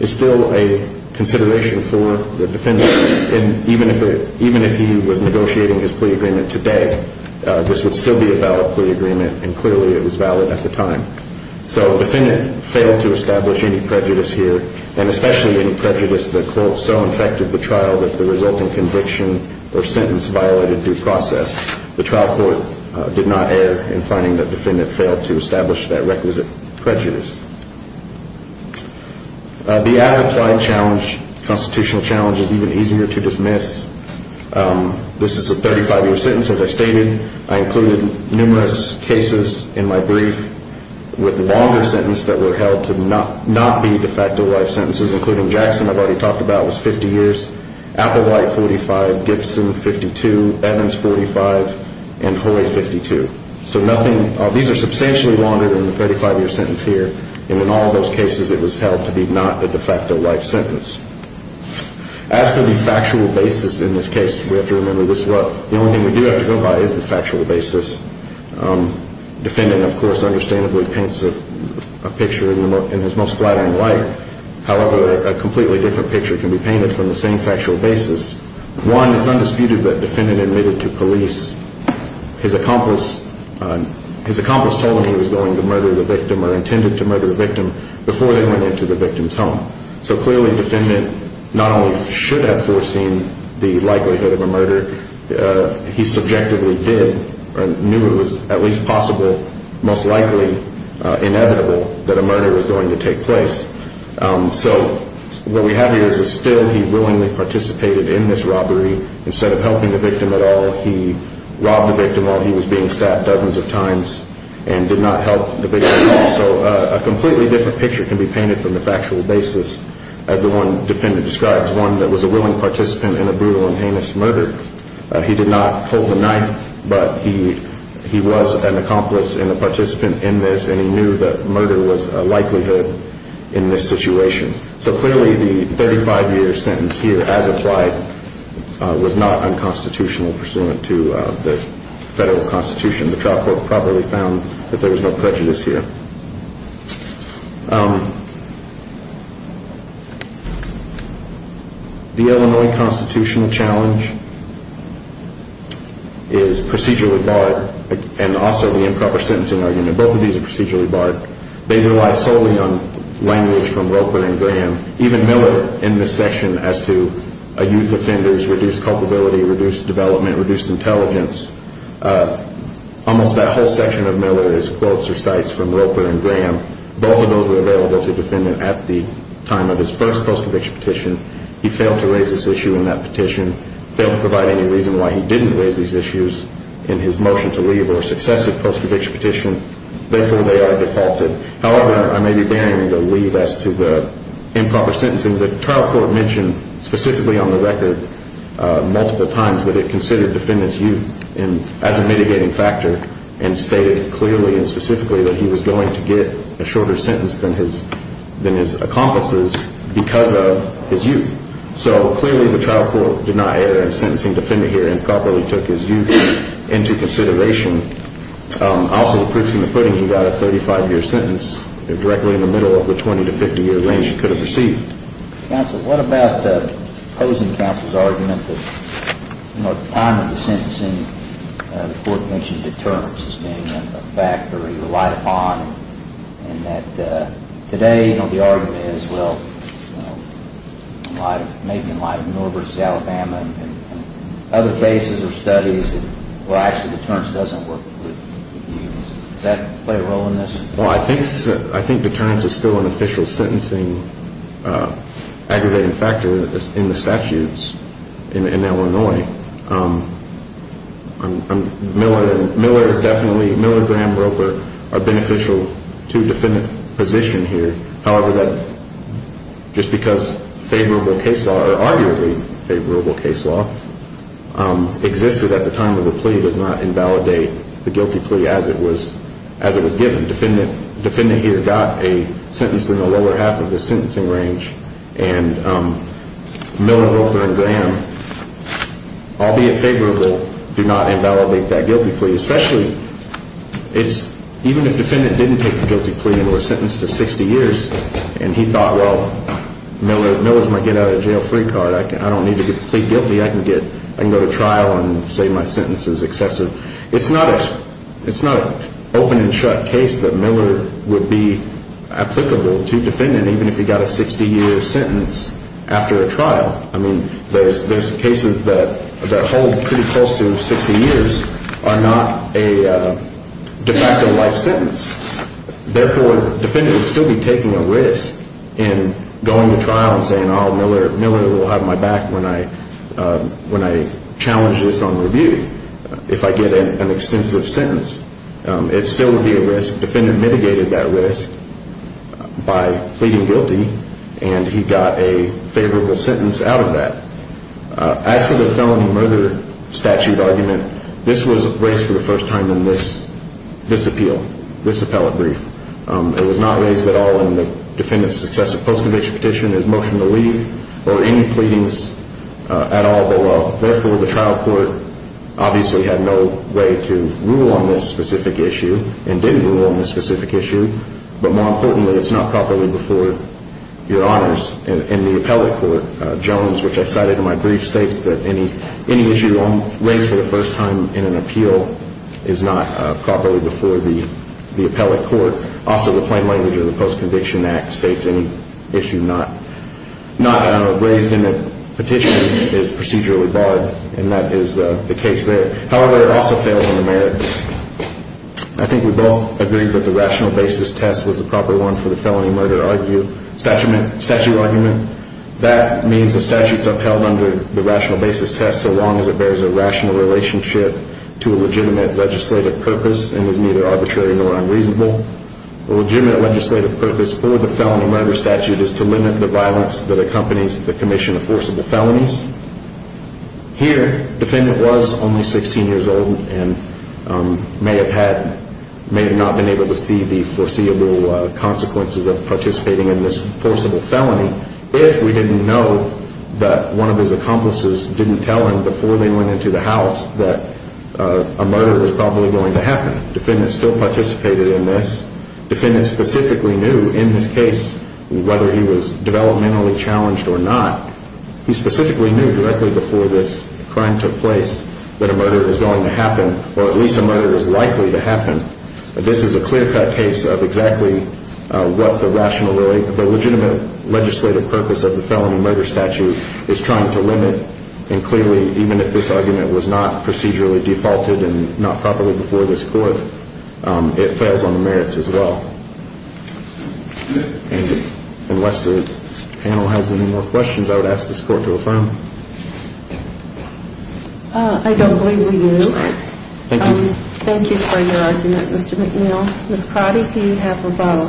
is still a consideration for the defendant. Even if he was negotiating his plea agreement today, this would still be a valid plea agreement, and clearly it was valid at the time. So the defendant failed to establish any prejudice here, and especially any prejudice that, quote, so infected the trial that the resulting conviction or sentence violated due process. The trial court did not err in finding that defendant failed to establish that requisite prejudice. The as-applied challenge, constitutional challenge, is even easier to dismiss. This is a 35-year sentence, as I stated. I included numerous cases in my brief with a longer sentence that were held to not be de facto life sentences, including Jackson, I've already talked about, was 50 years, Applewhite, 45, Gibson, 52, Evans, 45, and Hoy, 52. These are substantially longer than the 35-year sentence here, and in all those cases it was held to be not a de facto life sentence. As for the factual basis in this case, we have to remember this well. The only thing we do have to go by is the factual basis. Defendant, of course, understandably paints a picture in his most flattering light. However, a completely different picture can be painted from the same factual basis. One, it's undisputed that defendant admitted to police that his accomplice told him he was going to murder the victim or intended to murder the victim before they went into the victim's home. So clearly defendant not only should have foreseen the likelihood of a murder, he subjectively did or knew it was at least possible, most likely inevitable, that a murder was going to take place. So what we have here is that still he willingly participated in this robbery. Instead of helping the victim at all, he robbed the victim while he was being stabbed dozens of times and did not help the victim at all. So a completely different picture can be painted from the factual basis, as the one defendant describes, one that was a willing participant in a brutal and heinous murder. He did not pull the knife, but he was an accomplice and a participant in this, and he knew that murder was a likelihood in this situation. So clearly the 35-year sentence here as applied was not unconstitutional pursuant to the federal constitution. The trial court probably found that there was no prejudice here. The Illinois constitutional challenge is procedurally barred, and also the improper sentencing argument. Both of these are procedurally barred. They rely solely on language from Roper and Graham. Even Miller in this section as to a youth offender's reduced culpability, reduced development, reduced intelligence, almost that whole section of Miller is quotes or cites from Roper and Graham. Both of those were available to the defendant at the time of his first post-conviction petition. He failed to raise this issue in that petition, failed to provide any reason why he didn't raise these issues in his motion to leave or successive post-conviction petition. Therefore, they are defaulted. However, I may be daring to leave as to the improper sentencing. The trial court mentioned specifically on the record multiple times that it considered the defendant's youth as a mitigating factor and stated clearly and specifically that he was going to get a shorter sentence than his accomplices because of his youth. So clearly the trial court did not err in sentencing the defendant here improperly, took his youth into consideration. Also, the proof is in the pudding. He got a 35-year sentence directly in the middle of the 20- to 50-year range he could have received. Counsel, what about opposing counsel's argument that at the time of the sentencing, the court mentioned deterrence as being a factor he relied upon and that today the argument is, Well, I think deterrence is still an official sentencing aggregating factor in the statutes in Illinois. Miller is definitely, Miller, Graham, Roper are beneficial to the defendant's position here. Just because favorable case law or arguably favorable case law existed at the time of the plea does not invalidate the guilty plea as it was given. Defendant here got a sentence in the lower half of the sentencing range. And Miller, Roper, and Graham, albeit favorable, do not invalidate that guilty plea. Especially, it's, even if defendant didn't take the guilty plea and was sentenced to 60 years and he thought, Well, Miller's my get-out-of-jail-free card. I don't need to plead guilty. I can go to trial and say my sentence is excessive. It's not an open-and-shut case that Miller would be applicable to defendant even if he got a 60-year sentence after a trial. I mean, there's cases that hold pretty close to 60 years are not a de facto life sentence. Therefore, defendant would still be taking a risk in going to trial and saying, Oh, Miller will have my back when I challenge this on review if I get an extensive sentence. It still would be a risk. The defendant mitigated that risk by pleading guilty, and he got a favorable sentence out of that. As for the felony murder statute argument, this was raised for the first time in this appeal, this appellate brief. It was not raised at all in the defendant's successive post-conviction petition, his motion to leave, or any pleadings at all below. Therefore, the trial court obviously had no way to rule on this specific issue and didn't rule on this specific issue. But more importantly, it's not properly before your honors in the appellate court. Jones, which I cited in my brief, states that any issue raised for the first time in an appeal is not properly before the appellate court. Also, the plain language of the Post-Conviction Act states any issue not raised in a petition is procedurally barred, and that is the case there. However, it also fails on the merits. I think we both agree that the rational basis test was the proper one for the felony murder statute argument. That means the statute's upheld under the rational basis test so long as it bears a rational relationship to a legitimate legislative purpose and is neither arbitrary nor unreasonable. A legitimate legislative purpose for the felony murder statute is to limit the violence that accompanies the commission of forcible felonies. Here, the defendant was only 16 years old and may have not been able to see the foreseeable consequences of participating in this forcible felony if we didn't know that one of his accomplices didn't tell him before they went into the house that a murder was probably going to happen. The defendant still participated in this. The defendant specifically knew in this case whether he was developmentally challenged or not. He specifically knew directly before this crime took place that a murder was going to happen, or at least a murder was likely to happen. This is a clear-cut case of exactly what the legitimate legislative purpose of the felony murder statute is trying to limit. Clearly, even if this argument was not procedurally defaulted and not properly before this Court, it fails on the merits as well. Unless the panel has any more questions, I would ask this Court to affirm. I don't believe we do. Thank you. Thank you for your argument, Mr. McNeil. Ms. Crotty, do you have a vote?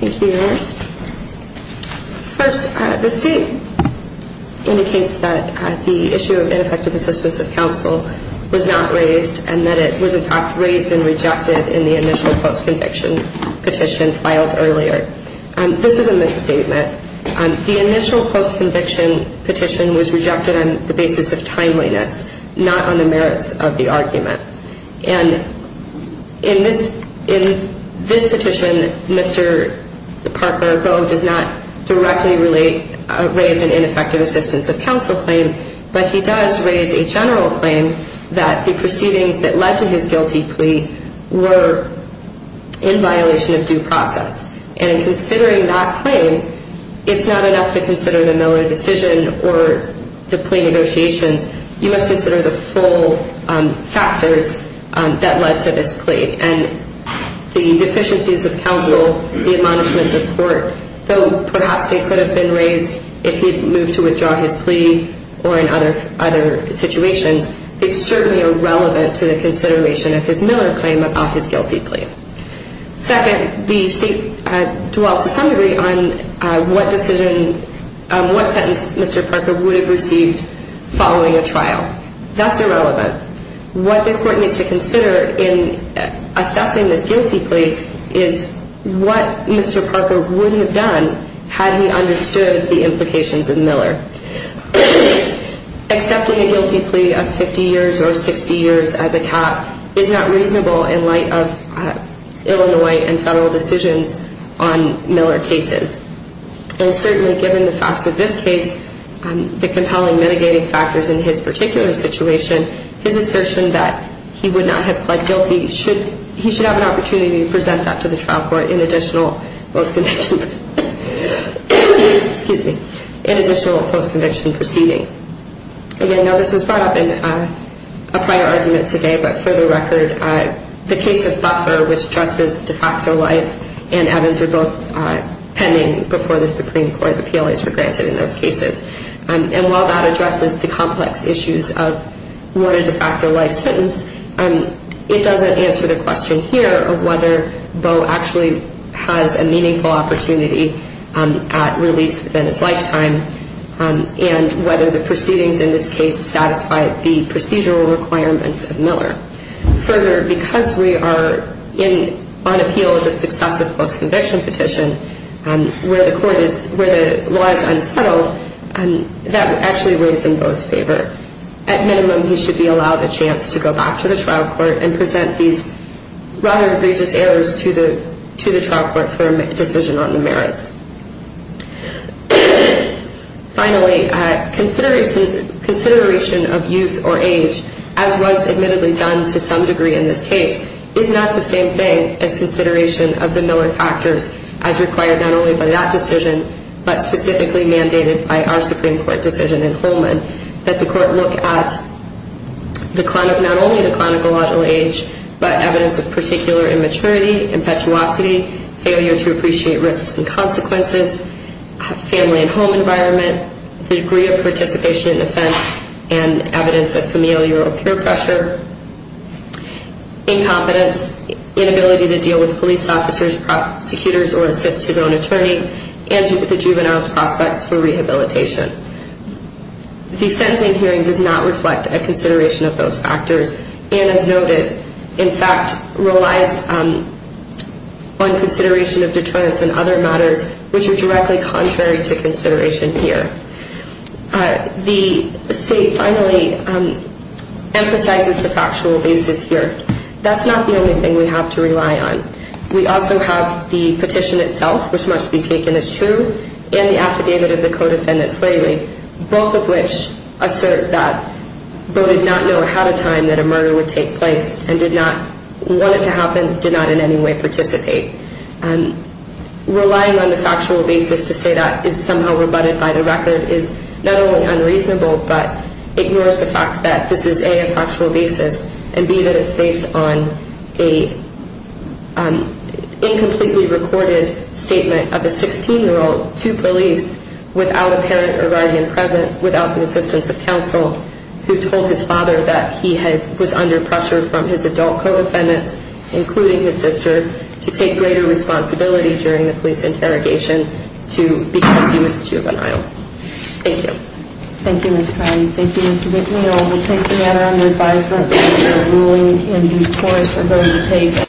Thank you, Your Honors. First, the State indicates that the issue of ineffective assistance of counsel was not raised and that it was, in fact, raised and rejected in the initial post-conviction petition filed earlier. This is a misstatement. The initial post-conviction petition was rejected on the basis of timeliness, not on the merits of the argument. And in this petition, Mr. Parker does not directly raise an ineffective assistance of counsel claim, but he does raise a general claim that the proceedings that led to his guilty plea were in violation of due process. And in considering that claim, it's not enough to consider the Miller decision or the plea negotiations. You must consider the full factors that led to this plea and the deficiencies of counsel, the admonishments of court. Though perhaps they could have been raised if he had moved to withdraw his plea or in other situations, they certainly are relevant to the consideration of his Miller claim about his guilty plea. Second, the State dwelt to some degree on what decision, what sentence Mr. Parker would have received following a trial. That's irrelevant. What the court needs to consider in assessing this guilty plea is what Mr. Parker would have done had he understood the implications of Miller. Accepting a guilty plea of 50 years or 60 years as a cap is not reasonable in light of Illinois and federal decisions on Miller cases. And certainly given the facts of this case, the compelling mitigating factors in his particular situation, his assertion that he would not have pled guilty, he should have an opportunity to present that to the trial court in additional post-conviction proceedings. Again, now this was brought up in a prior argument today, but for the record, the case of Buffer, which addresses de facto life, and Evans are both pending before the Supreme Court. The PLAs were granted in those cases. And while that addresses the complex issues of what a de facto life sentence, it doesn't answer the question here of whether Beau actually has a meaningful opportunity at release within his lifetime and whether the proceedings in this case satisfy the procedural requirements of Miller. Further, because we are on appeal of the successive post-conviction petition, where the law is unsettled, that actually weighs in Beau's favor. At minimum, he should be allowed a chance to go back to the trial court and present these rather egregious errors to the trial court for a decision on the merits. Finally, consideration of youth or age, as was admittedly done to some degree in this case, is not the same thing as consideration of the Miller factors as required not only by that decision, but specifically mandated by our Supreme Court decision in Holman, that the court look at not only the chronological age, but evidence of particular immaturity, impetuosity, failure to appreciate risks and consequences, family and home environment, the degree of participation in offense and evidence of familial or peer pressure, incompetence, inability to deal with police officers, prosecutors, or assist his own attorney, and the juvenile's prospects for rehabilitation. The sentencing hearing does not reflect a consideration of those factors and, as noted, in fact relies on consideration of deterrence and other matters which are directly contrary to consideration here. The state finally emphasizes the factual basis here. That's not the only thing we have to rely on. We also have the petition itself, which must be taken as true, and the affidavit of the co-defendant, Flaley, both of which assert that Bow did not know ahead of time that a murder would take place and did not want it to happen, did not in any way participate. Relying on the factual basis to say that is somehow rebutted by the record is not only unreasonable, but ignores the fact that this is, A, a factual basis, and, B, that it's based on an incompletely recorded statement of a 16-year-old to police without a parent or guardian present, without the assistance of counsel, who told his father that he was under pressure from his adult co-defendants, including his sister, to take greater responsibility during the police interrogation because he was a juvenile. Thank you. Thank you, Ms. Crowley. Thank you, Mr. McNeil. We'll take the matter under advisement. The ruling in due course we're going to take.